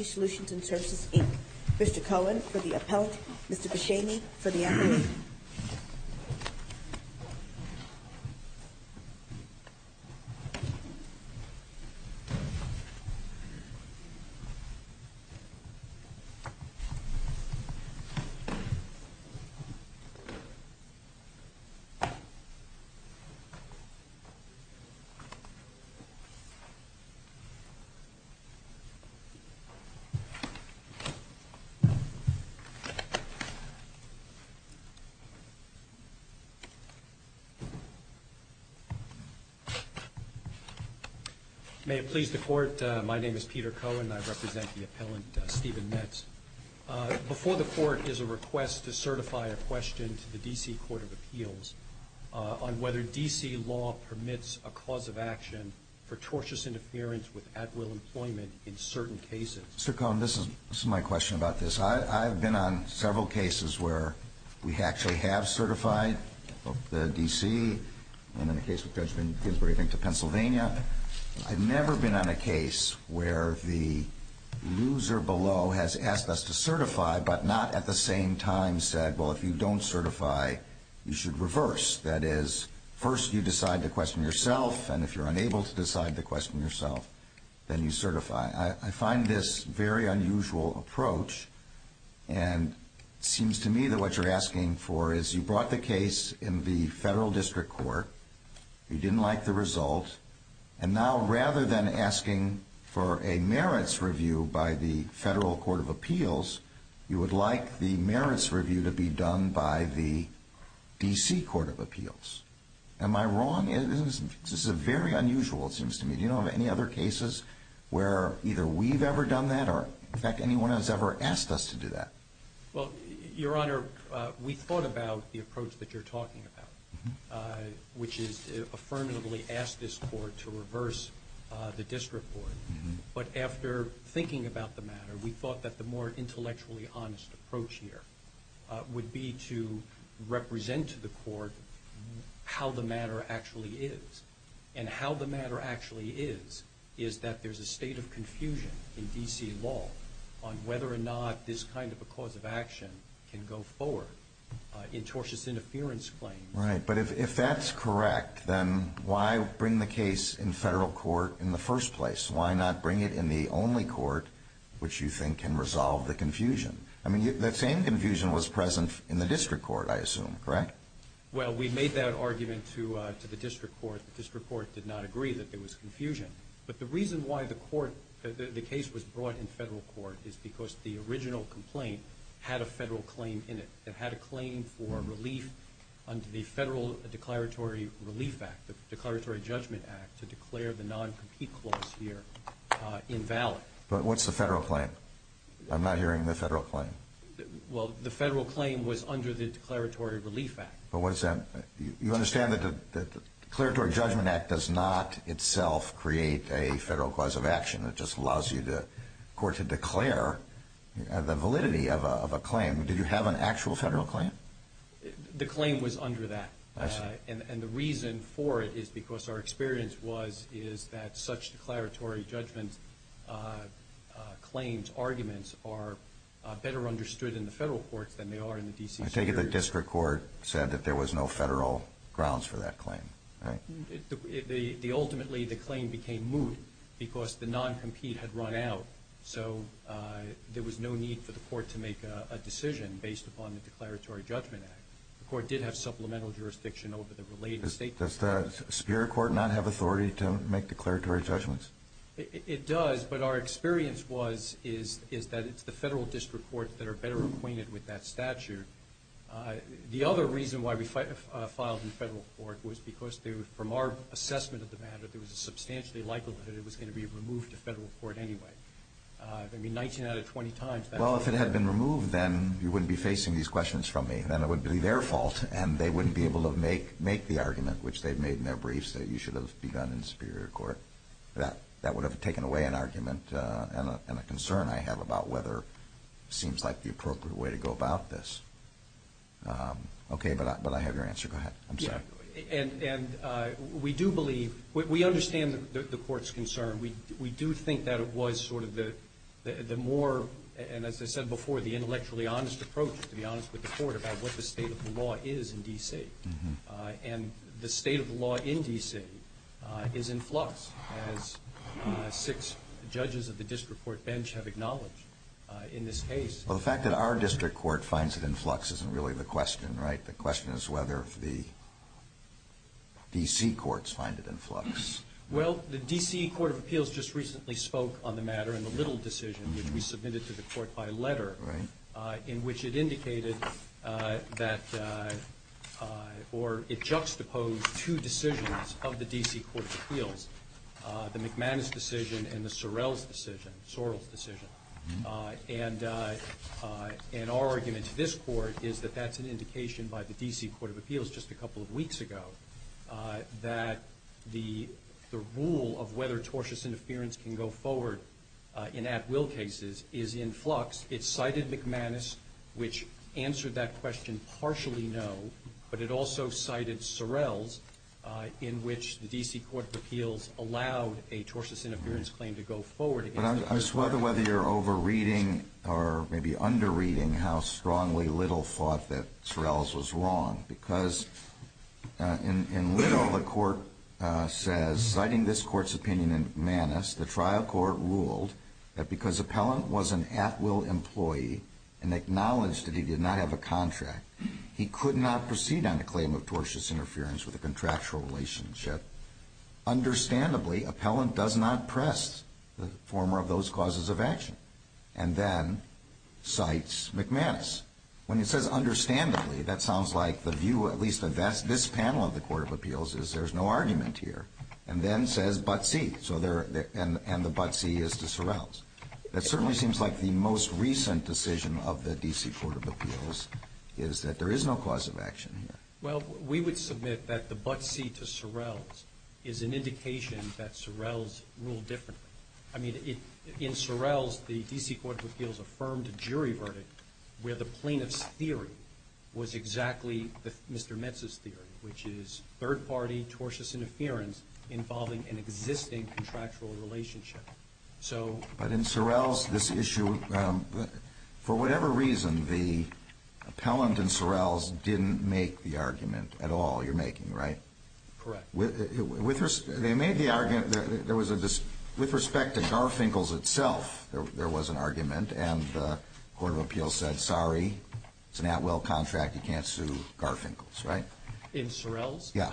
Solutions and Services, Inc. Mr. Cohen for the appellate, Mr. Beshami for the appellate. May it please the Court, my name is Peter Cohen and I represent the appellant Stephen Metz. Before the Court is a request to certify a question to the D.C. Court of Appeals on whether D.C. law permits a cause of action for tortious interference with at-will employment in certain cases. Mr. Cohen, this is my question about this. I've been on several cases where we actually have certified the D.C. and in the case of Judge Ginsburg into Pennsylvania. I've never been on a case where the loser below has asked us to certify but not at the same time said, well, if you don't certify, you should reverse. That is, first you decide the question yourself and if you're unable to decide the question yourself, then you certify. I find this very unusual approach and it seems to me that what you're asking for is you brought the case in the Federal District Court, you didn't like the result, and now rather than asking for a merits review by the Federal Court of Appeals, you would like the merits review to be done by the D.C. Court of Appeals. Am I wrong? This is very unusual, it seems to me. Do you know of any other cases where either we've ever done that or in fact anyone has ever asked us to do that? Well, Your Honor, we thought about the approach that you're talking about, which is affirmatively ask this court to reverse the district court. But after thinking about the matter, we thought that the more intellectually honest approach here would be to represent to the court how the matter actually is. And how the matter actually is is that there's a state of confusion in D.C. law on whether or not this kind of a cause of action can go forward in tortious interference claims. Right, but if that's correct, then why bring the case in Federal Court in the first place? Why not bring it in the only court which you think can resolve the confusion? I mean, that same confusion was present in the district court, I assume, correct? Well, we made that argument to the district court. The district court did not agree that there was confusion. But the reason why the case was brought in Federal Court is because the original complaint had a Federal claim in it. It had a claim for relief under the Federal Declaratory Relief Act, the Declaratory Judgment Act, to declare the non-compete clause here invalid. But what's the Federal claim? I'm not hearing the Federal claim. Well, the Federal claim was under the Declaratory Relief Act. But you understand that the Declaratory Judgment Act does not itself create a Federal cause of action. It just allows the court to declare the validity of a claim. Did you have an actual Federal claim? The claim was under that. I see. And the reason for it is because our experience was is that such declaratory judgment claims, arguments, are better understood in the Federal courts than they are in the D.C. Circuit. I take it the district court said that there was no Federal grounds for that claim, right? Ultimately, the claim became moot because the non-compete had run out. So there was no need for the court to make a decision based upon the Declaratory Judgment Act. The court did have supplemental jurisdiction over the related statements. Does the Superior Court not have authority to make declaratory judgments? It does. But our experience was is that it's the Federal district courts that are better acquainted with that statute. The other reason why we filed in Federal court was because from our assessment of the matter, there was a substantially likelihood it was going to be removed to Federal court anyway. I mean, 19 out of 20 times, that's what happened. Well, if it had been removed, then you wouldn't be facing these questions from me. Then it would be their fault, and they wouldn't be able to make the argument, which they've made in their briefs, that you should have begun in Superior Court. That would have taken away an argument and a concern I have about whether it seems like the appropriate way to go about this. Okay, but I have your answer. Go ahead. I'm sorry. And we do believe we understand the court's concern. We do think that it was sort of the more, and as I said before, the intellectually honest approach, to be honest with the court, about what the state of the law is in D.C. And the state of the law in D.C. is in flux, as six judges of the district court bench have acknowledged in this case. Well, the fact that our district court finds it in flux isn't really the question, right? The question is whether the D.C. courts find it in flux. Well, the D.C. Court of Appeals just recently spoke on the matter in the Little decision, which we submitted to the court by letter, in which it indicated that or it juxtaposed two decisions of the D.C. Court of Appeals, the McManus decision and the Sorrell's decision. And our argument to this court is that that's an indication by the D.C. Court of Appeals just a couple of weeks ago that the rule of whether tortious interference can go forward in at-will cases is in flux. It cited McManus, which answered that question partially no, but it also cited Sorrell's, in which the D.C. Court of Appeals allowed a tortious interference claim to go forward. I just wonder whether you're over-reading or maybe under-reading how strongly Little thought that Sorrell's was wrong, because in Little, the court says, citing this court's opinion in McManus, the trial court ruled that because Appellant was an at-will employee and acknowledged that he did not have a contract, he could not proceed on the claim of tortious interference with a contractual relationship. Understandably, Appellant does not press the former of those causes of action and then cites McManus. When it says understandably, that sounds like the view, at least of this panel of the Court of Appeals, is there's no argument here, and then says but see, and the but see is to Sorrell's. That certainly seems like the most recent decision of the D.C. Court of Appeals is that there is no cause of action here. Well, we would submit that the but see to Sorrell's is an indication that Sorrell's ruled differently. I mean, in Sorrell's, the D.C. Court of Appeals affirmed a jury verdict where the plaintiff's theory was exactly Mr. Metz's theory, which is third-party tortious interference involving an existing contractual relationship. But in Sorrell's, this issue, for whatever reason, the appellant in Sorrell's didn't make the argument at all you're making, right? Correct. With respect to Garfinkel's itself, there was an argument, and the Court of Appeals said sorry, it's an at-will contract, you can't sue Garfinkel's, right? In Sorrell's? Yeah.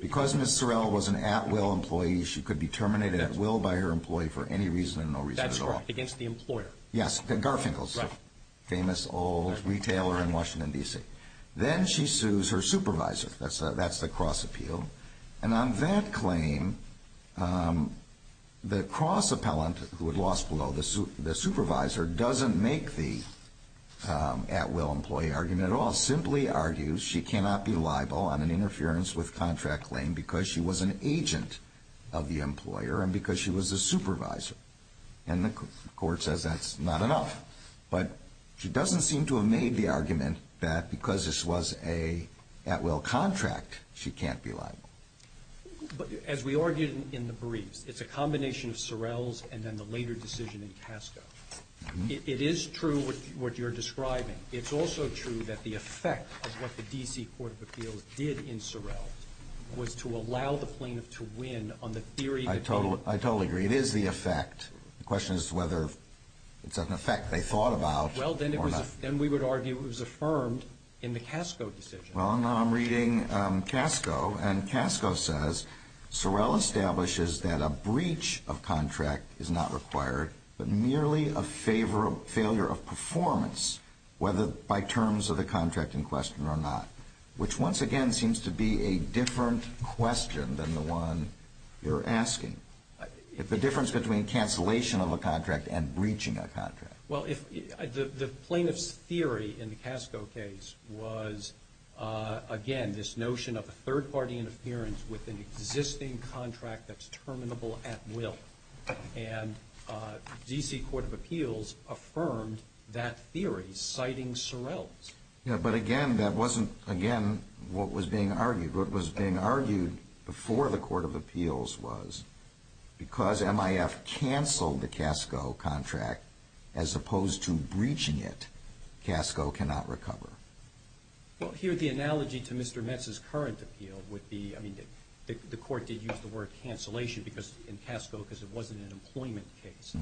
Because Ms. Sorrell was an at-will employee, she could be terminated at will by her employee for any reason and no reason at all. That's correct, against the employer. Yes, Garfinkel's. Right. Famous old retailer in Washington, D.C. Then she sues her supervisor. That's the cross appeal. And on that claim, the cross appellant who had lost below the supervisor doesn't make the at-will employee argument at all, Sorrell simply argues she cannot be liable on an interference with contract claim because she was an agent of the employer and because she was a supervisor. And the Court says that's not enough. But she doesn't seem to have made the argument that because this was an at-will contract, she can't be liable. But as we argued in the briefs, it's a combination of Sorrell's and then the later decision in Casco. It is true what you're describing. It's also true that the effect of what the D.C. Court of Appeals did in Sorrell was to allow the plaintiff to win on the theory that they ---- I totally agree. It is the effect. The question is whether it's an effect they thought about or not. Well, then we would argue it was affirmed in the Casco decision. Well, now I'm reading Casco, and Casco says, Sorrell establishes that a breach of contract is not required, but merely a failure of performance, whether by terms of the contract in question or not, which once again seems to be a different question than the one you're asking. The difference between cancellation of a contract and breaching a contract. Well, the plaintiff's theory in the Casco case was, again, this notion of a third-party interference with an existing contract that's terminable at will, and D.C. Court of Appeals affirmed that theory, citing Sorrell's. Yeah, but again, that wasn't, again, what was being argued. What was being argued before the Court of Appeals was, because MIF canceled the Casco contract as opposed to breaching it, Casco cannot recover. Well, here the analogy to Mr. Metz's current appeal would be, I mean, the Court did use the word cancellation in Casco because it wasn't an employment case.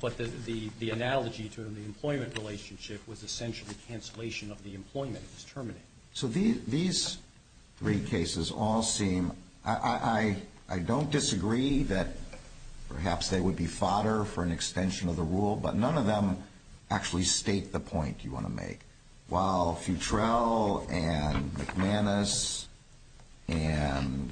But the analogy to the employment relationship was essentially cancellation of the employment that was terminated. So these three cases all seem, I don't disagree that perhaps they would be fodder for an extension of the rule, but none of them actually state the point you want to make, while Futrell and McManus and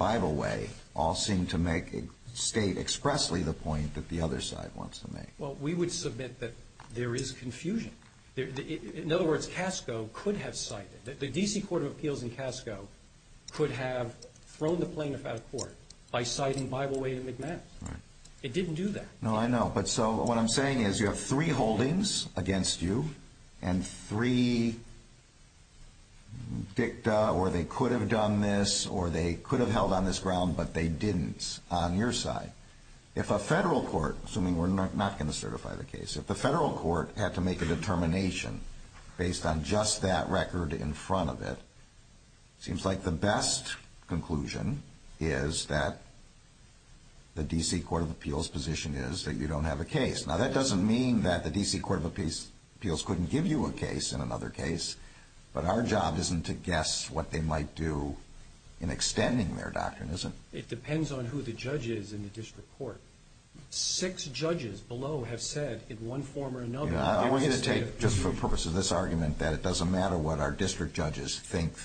Bibleway all seem to state expressly the point that the other side wants to make. Well, we would submit that there is confusion. In other words, Casco could have cited, the D.C. Court of Appeals in Casco could have thrown the plaintiff out of court by citing Bibleway and McManus. It didn't do that. No, I know. But so what I'm saying is you have three holdings against you and three dicta, or they could have done this or they could have held on this ground, but they didn't on your side. If a federal court, assuming we're not going to certify the case, if the federal court had to make a determination based on just that record in front of it, it seems like the best conclusion is that the D.C. Court of Appeals position is that you don't have a case. Now, that doesn't mean that the D.C. Court of Appeals couldn't give you a case in another case, but our job isn't to guess what they might do in extending their doctrine, is it? It depends on who the judge is in the district court. Six judges below have said in one form or another, I want you to take, just for the purpose of this argument, that it doesn't matter what our district judges think.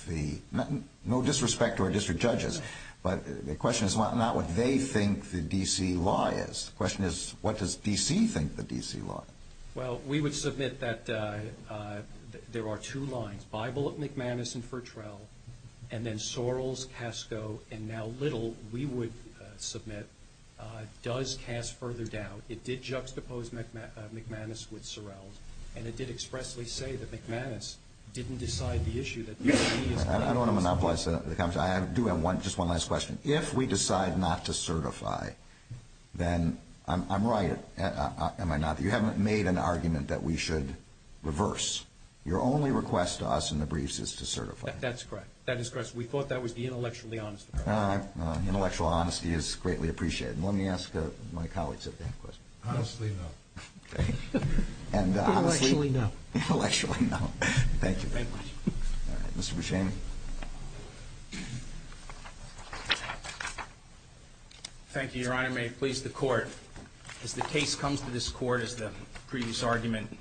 No disrespect to our district judges, but the question is not what they think the D.C. law is. The question is what does D.C. think the D.C. law is. Well, we would submit that there are two lines, Bible of McManus and Fertrell, and then Sorrells, Casco, and now Little, we would submit, does cast further doubt. It did juxtapose McManus with Sorrells, and it did expressly say that McManus didn't decide the issue. I don't want to monopolize the conversation. I do have just one last question. If we decide not to certify, then I'm right, am I not? You haven't made an argument that we should reverse. Your only request to us in the briefs is to certify. That's correct. That is correct. We thought that was the intellectually honest approach. Intellectual honesty is greatly appreciated. Let me ask my colleagues if they have questions. Honestly, no. Okay. Intellectually, no. Intellectually, no. Thank you. Thank you. All right. Mr. Buscemi. Thank you, Your Honor. May it please the Court. As the case comes to this Court, as the previous argument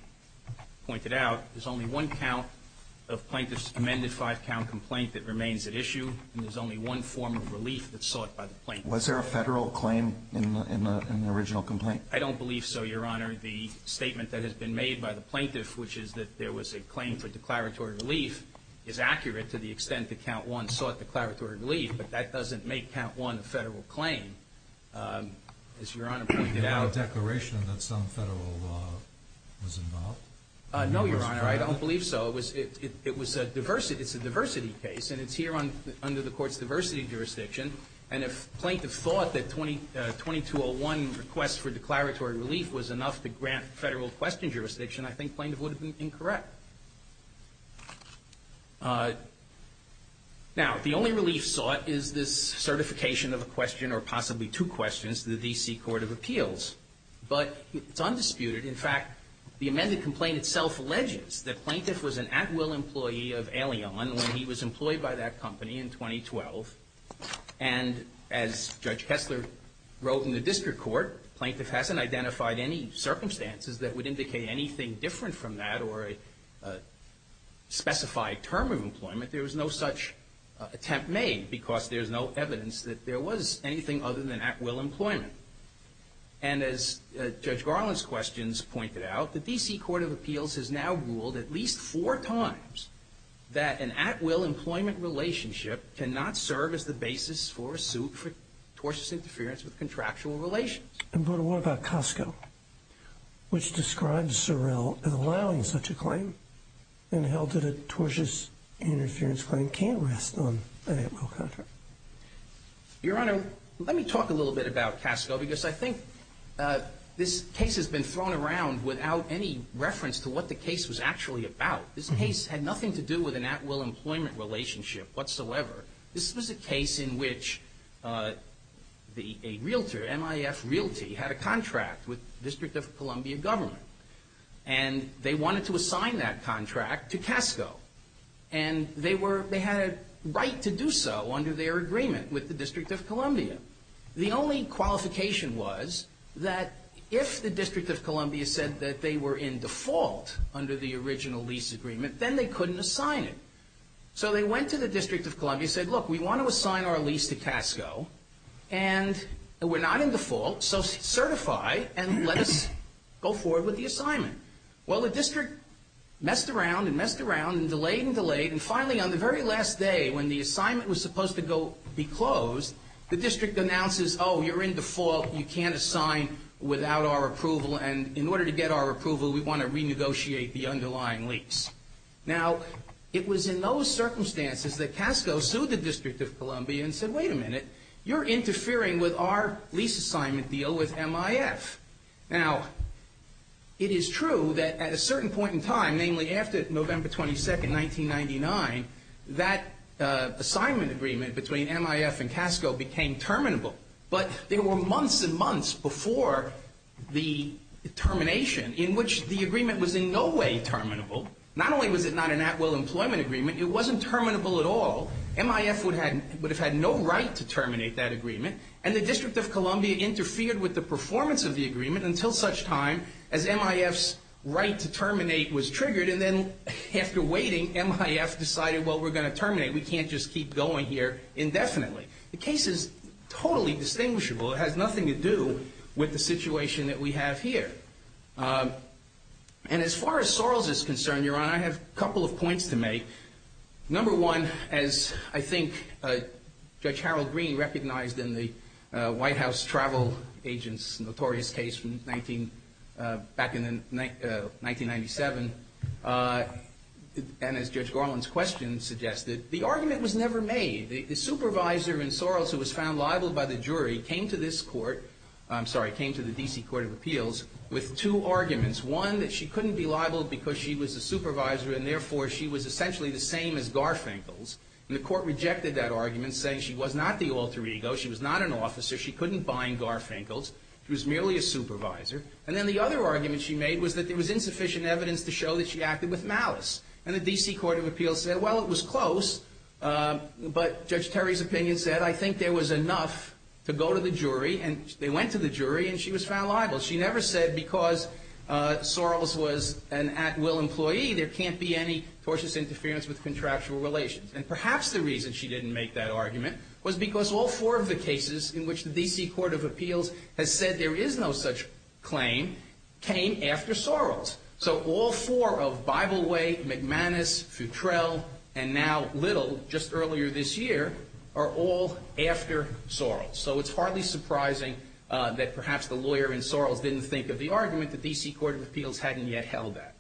pointed out, there's only one count of plaintiff's amended five-count complaint that remains at issue, and there's only one form of relief that's sought by the plaintiff. Was there a Federal claim in the original complaint? I don't believe so, Your Honor. The statement that has been made by the plaintiff, which is that there was a claim for declaratory relief, is accurate to the extent that Count 1 sought declaratory relief, but that doesn't make Count 1 a Federal claim, as Your Honor pointed out. Did it have a declaration that some Federal law was involved? No, Your Honor. I don't believe so. It's a diversity case, and it's here under the Court's diversity jurisdiction. And if plaintiff thought that 2201 request for declaratory relief was enough to grant Federal question jurisdiction, I think plaintiff would have been incorrect. Now, the only relief sought is this certification of a question or possibly two questions to the D.C. Court of Appeals. But it's undisputed. In fact, the amended complaint itself alleges that plaintiff was an at-will employee when he was employed by that company in 2012. And as Judge Kessler wrote in the district court, plaintiff hasn't identified any circumstances that would indicate anything different from that or a specified term of employment. There was no such attempt made because there's no evidence that there was anything other than at-will employment. And as Judge Garland's questions pointed out, the D.C. Court of Appeals has now ruled at least four times that an at-will employment relationship cannot serve as the basis for a suit for tortious interference with contractual relations. But what about Costco, which describes Sorrell as allowing such a claim, and held that a tortious interference claim can't rest on an at-will contract? Your Honor, let me talk a little bit about Costco because I think this case has been thrown around without any reference to what the case was actually about. This case had nothing to do with an at-will employment relationship whatsoever. This was a case in which a realtor, MIF Realty, had a contract with the District of Columbia government. And they wanted to assign that contract to Costco. And they had a right to do so under their agreement with the District of Columbia. The only qualification was that if the District of Columbia said that they were in default under the original lease agreement, then they couldn't assign it. So they went to the District of Columbia and said, look, we want to assign our lease to Costco, and we're not in default, so certify and let us go forward with the assignment. Well, the district messed around and messed around and delayed and delayed, and finally on the very last day when the assignment was supposed to go and be closed, the district announces, oh, you're in default, you can't assign without our approval, and in order to get our approval, we want to renegotiate the underlying lease. Now, it was in those circumstances that Costco sued the District of Columbia and said, wait a minute, you're interfering with our lease assignment deal with MIF. Now, it is true that at a certain point in time, namely after November 22, 1999, that assignment agreement between MIF and Costco became terminable, but there were months and months before the termination in which the agreement was in no way terminable. Not only was it not an at-will employment agreement, it wasn't terminable at all. MIF would have had no right to terminate that agreement, and the District of Columbia interfered with the performance of the agreement until such time as MIF's right to terminate was triggered, and then after waiting, MIF decided, well, we're going to terminate. We can't just keep going here indefinitely. The case is totally distinguishable. It has nothing to do with the situation that we have here. And as far as Sorrells is concerned, Your Honor, I have a couple of points to make. Number one, as I think Judge Harold Green recognized in the White House travel agent's back in 1997, and as Judge Garland's question suggested, the argument was never made. The supervisor in Sorrells who was found liable by the jury came to this court, I'm sorry, came to the D.C. Court of Appeals with two arguments, one that she couldn't be liable because she was a supervisor and therefore she was essentially the same as Garfinkels, and the court rejected that argument saying she was not the alter ego, she was not an officer, she couldn't bind Garfinkels. She was merely a supervisor. And then the other argument she made was that there was insufficient evidence to show that she acted with malice. And the D.C. Court of Appeals said, well, it was close, but Judge Terry's opinion said, I think there was enough to go to the jury, and they went to the jury, and she was found liable. She never said because Sorrells was an at-will employee, there can't be any tortious interference with contractual relations. And perhaps the reason she didn't make that argument was because all four of the cases in which the D.C. Court of Appeals has said there is no such claim came after Sorrells. So all four of Bible Way, McManus, Futrell, and now Little, just earlier this year, are all after Sorrells. So it's hardly surprising that perhaps the lawyer in Sorrells didn't think of the argument the D.C. Court of Appeals hadn't yet held that.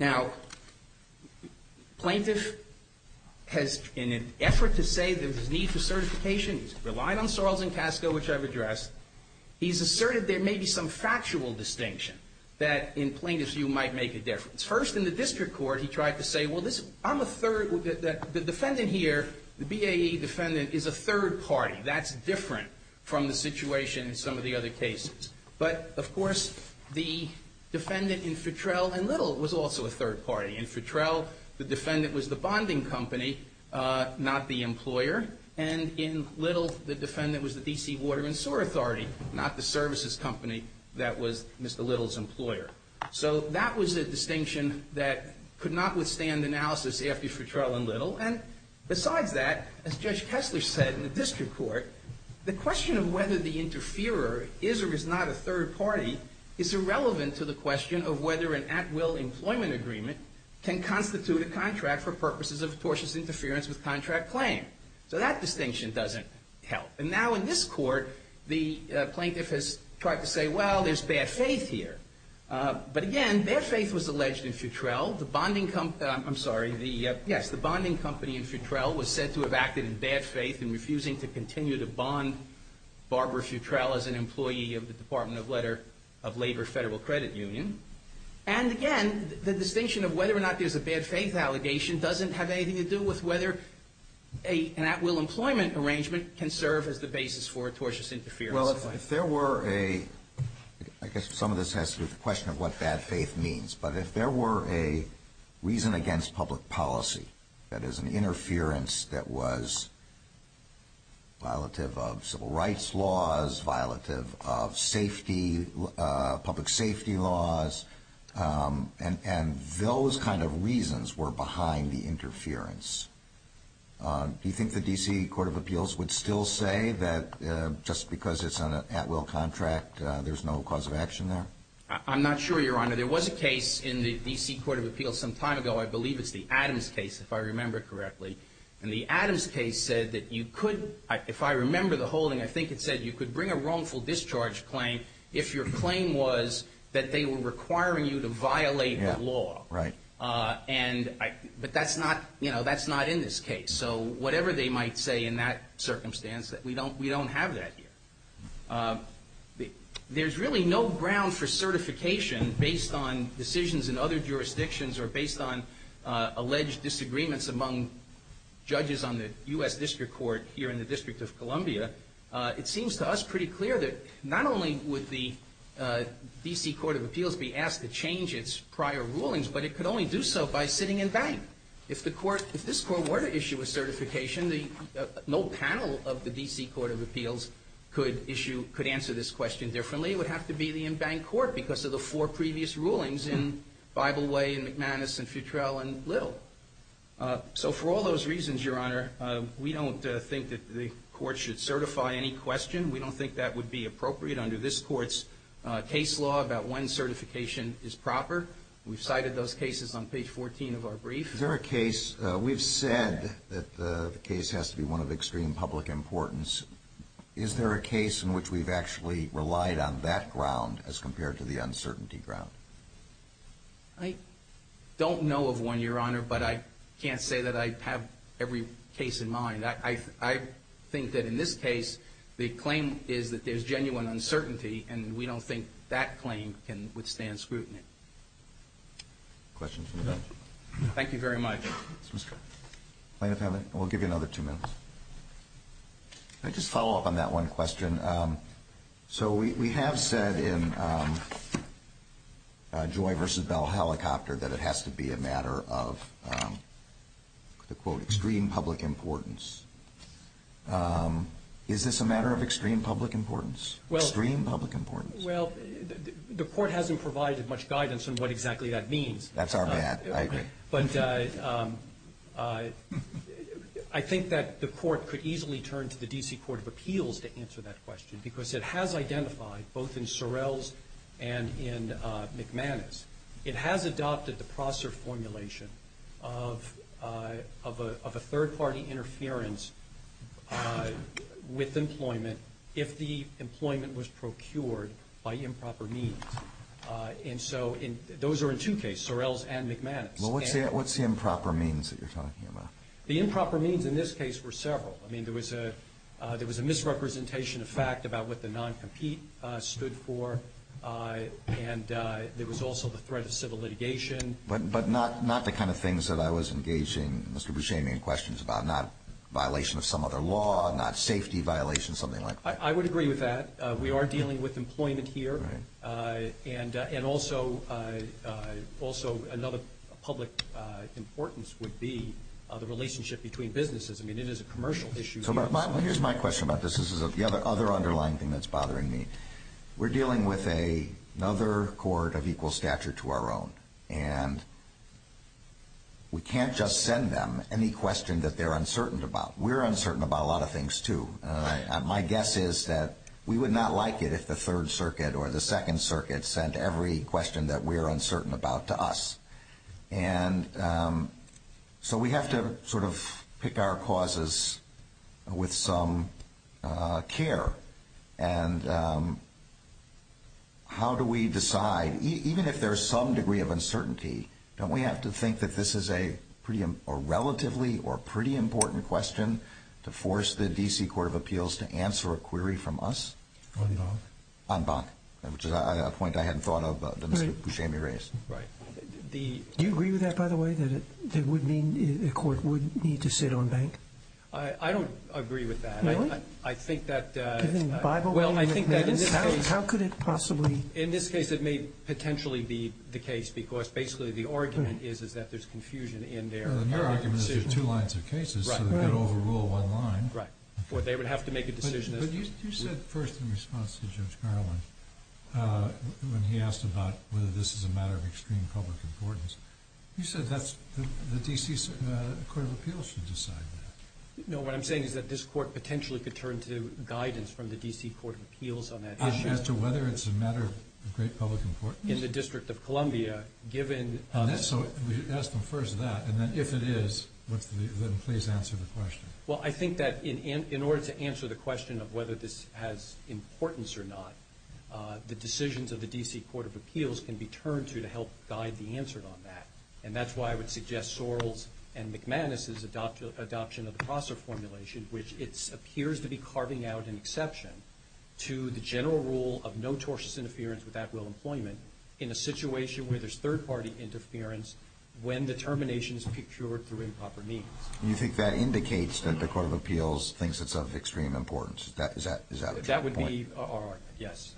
Now, plaintiff has, in an effort to say that there's a need for certification, he's relied on Sorrells and Casco, which I've addressed. He's asserted there may be some factual distinction that, in plaintiff's view, might make a difference. First, in the district court, he tried to say, well, I'm a third. The defendant here, the BAE defendant, is a third party. That's different from the situation in some of the other cases. But, of course, the defendant in Futrell and Little was also a third party. In Futrell, the defendant was the bonding company, not the employer. And in Little, the defendant was the D.C. Water and Sewer Authority, not the services company that was Mr. Little's employer. So that was a distinction that could not withstand analysis after Futrell and Little. And besides that, as Judge Kessler said in the district court, the question of whether the interferer is or is not a third party is irrelevant to the question of whether an at-will employment agreement can constitute a contract for purposes of tortious interference with contract claim. So that distinction doesn't help. And now in this court, the plaintiff has tried to say, well, there's bad faith here. But, again, bad faith was alleged in Futrell. The bonding company in Futrell was said to have acted in bad faith in refusing to continue to bond Barbara Futrell as an employee of the Department of Labor Federal Credit Union. And, again, the distinction of whether or not there's a bad faith allegation doesn't have anything to do with whether an at-will employment arrangement can serve as the basis for tortious interference. Well, if there were a – I guess some of this has to do with the question of what bad faith means. But if there were a reason against public policy, that is, an interference that was violative of civil rights laws, violative of safety – public safety laws, and those kind of reasons were behind the interference, do you think the D.C. Court of Appeals would still say that just because it's an at-will contract, there's no cause of action there? I'm not sure, Your Honor. There was a case in the D.C. Court of Appeals some time ago. I believe it's the Adams case, if I remember correctly. And the Adams case said that you could – if I remember the holding, I think it said you could bring a wrongful discharge claim if your claim was that they were requiring you to violate the law. Right. And – but that's not – you know, that's not in this case. So whatever they might say in that circumstance, we don't have that here. There's really no ground for certification based on decisions in other jurisdictions or based on alleged disagreements among judges on the U.S. District Court here in the District of Columbia. It seems to us pretty clear that not only would the D.C. Court of Appeals be asked to change its prior rulings, but it could only do so by sitting in bank. If the court – if this court were to issue a certification, no panel of the D.C. Court of Appeals could issue – could answer this question differently. It would have to be the in-bank court because of the four previous rulings in Bible Way and McManus and Futrell and Lill. So for all those reasons, Your Honor, we don't think that the court should certify any question. We don't think that would be appropriate under this court's case law about when certification is proper. We've cited those cases on page 14 of our brief. Is there a case – we've said that the case has to be one of extreme public importance. Is there a case in which we've actually relied on that ground as compared to the uncertainty ground? I don't know of one, Your Honor, but I can't say that I have every case in mind. I think that in this case, the claim is that there's genuine uncertainty, and we don't think that claim can withstand scrutiny. Questions from the bench? Thank you very much. Plaintiff, we'll give you another two minutes. Can I just follow up on that one question? So we have said in Joy v. Bell Helicopter that it has to be a matter of, quote, extreme public importance. Is this a matter of extreme public importance? Extreme public importance. Well, the court hasn't provided much guidance on what exactly that means. That's our man. I agree. But I think that the court could easily turn to the D.C. Court of Appeals to answer that question because it has identified, both in Sorrell's and in McManus, it has adopted the processor formulation of a third-party interference with employment if the employment was procured by improper means. And so those are in two cases, Sorrell's and McManus. Well, what's the improper means that you're talking about? The improper means in this case were several. I mean, there was a misrepresentation of fact about what the non-compete stood for, and there was also the threat of civil litigation. But not the kind of things that I was engaging Mr. Buscemi in questions about, not violation of some other law, not safety violation, something like that. I would agree with that. We are dealing with employment here, and also another public importance would be the relationship between businesses. I mean, it is a commercial issue. Here's my question about this. This is the other underlying thing that's bothering me. We're dealing with another court of equal stature to our own, and we can't just send them any question that they're uncertain about. We're uncertain about a lot of things too. My guess is that we would not like it if the Third Circuit or the Second Circuit sent every question that we're uncertain about to us. And so we have to sort of pick our causes with some care. And how do we decide? Even if there's some degree of uncertainty, don't we have to think that this is a relatively or pretty important question to force the D.C. Court of Appeals to answer a query from us? En banc. En banc, which is a point I hadn't thought of that Mr. Buscemi raised. Right. Do you agree with that, by the way, that it would mean a court would need to sit on bank? I don't agree with that. No? I think that the – Given the Bible – Well, I think that in this case – How could it possibly – In this case, it may potentially be the case, because basically the argument is that there's confusion in there. Your argument is there are two lines of cases, so they've got to overrule one line. Right. Or they would have to make a decision as to – But you said first in response to Judge Garland, when he asked about whether this is a matter of extreme public importance, you said that the D.C. Court of Appeals should decide that. No, what I'm saying is that this court potentially could turn to guidance from the D.C. Court of Appeals on that issue. As to whether it's a matter of great public importance? In the District of Columbia, given – So ask them first that, and then if it is, then please answer the question. Well, I think that in order to answer the question of whether this has importance or not, the decisions of the D.C. Court of Appeals can be turned to to help guide the answer on that. And that's why I would suggest Sorrell's and McManus's adoption of the Prosser formulation, which it appears to be carving out an exception to the general rule of no tortious interference with at-will employment in a situation where there's third-party interference when the termination is procured through improper means. You think that indicates that the Court of Appeals thinks it's of extreme importance? Is that a true point? That would be our – yes.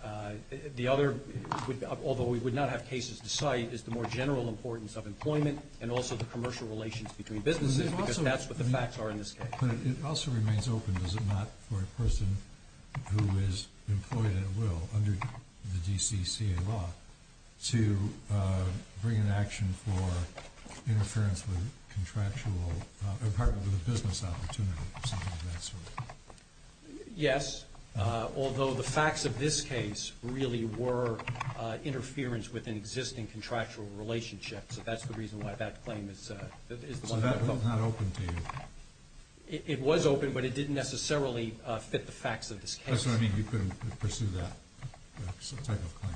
The other, although we would not have cases to cite, is the more general importance of employment and also the commercial relations between businesses, because that's what the facts are in this case. But it also remains open, does it not, for a person who is employed at will under the D.C.C.A. law to bring an action for interference with contractual – in part with a business opportunity or something of that sort? Yes, although the facts of this case really were interference with an existing contractual relationship. So that's the reason why that claim is the one that – So that was not open to you? It was open, but it didn't necessarily fit the facts of this case. That's what I mean, you couldn't pursue that type of claim.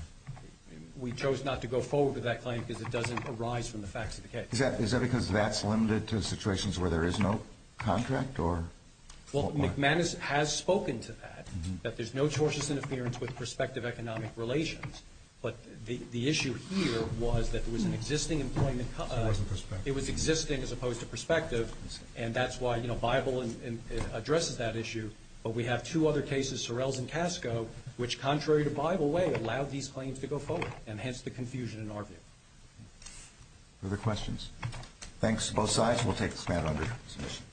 We chose not to go forward with that claim because it doesn't arise from the facts of the case. Is that because that's limited to situations where there is no contract or – Well, McManus has spoken to that, that there's no tortious interference with prospective economic relations, but the issue here was that there was an existing employment – It wasn't prospective. It was existing as opposed to prospective, and that's why, you know, Bible addresses that issue. But we have two other cases, Sorrells and Casco, which contrary to Bible way allowed these claims to go forward, and hence the confusion in our view. Further questions? Thanks to both sides. We'll take this matter under submission.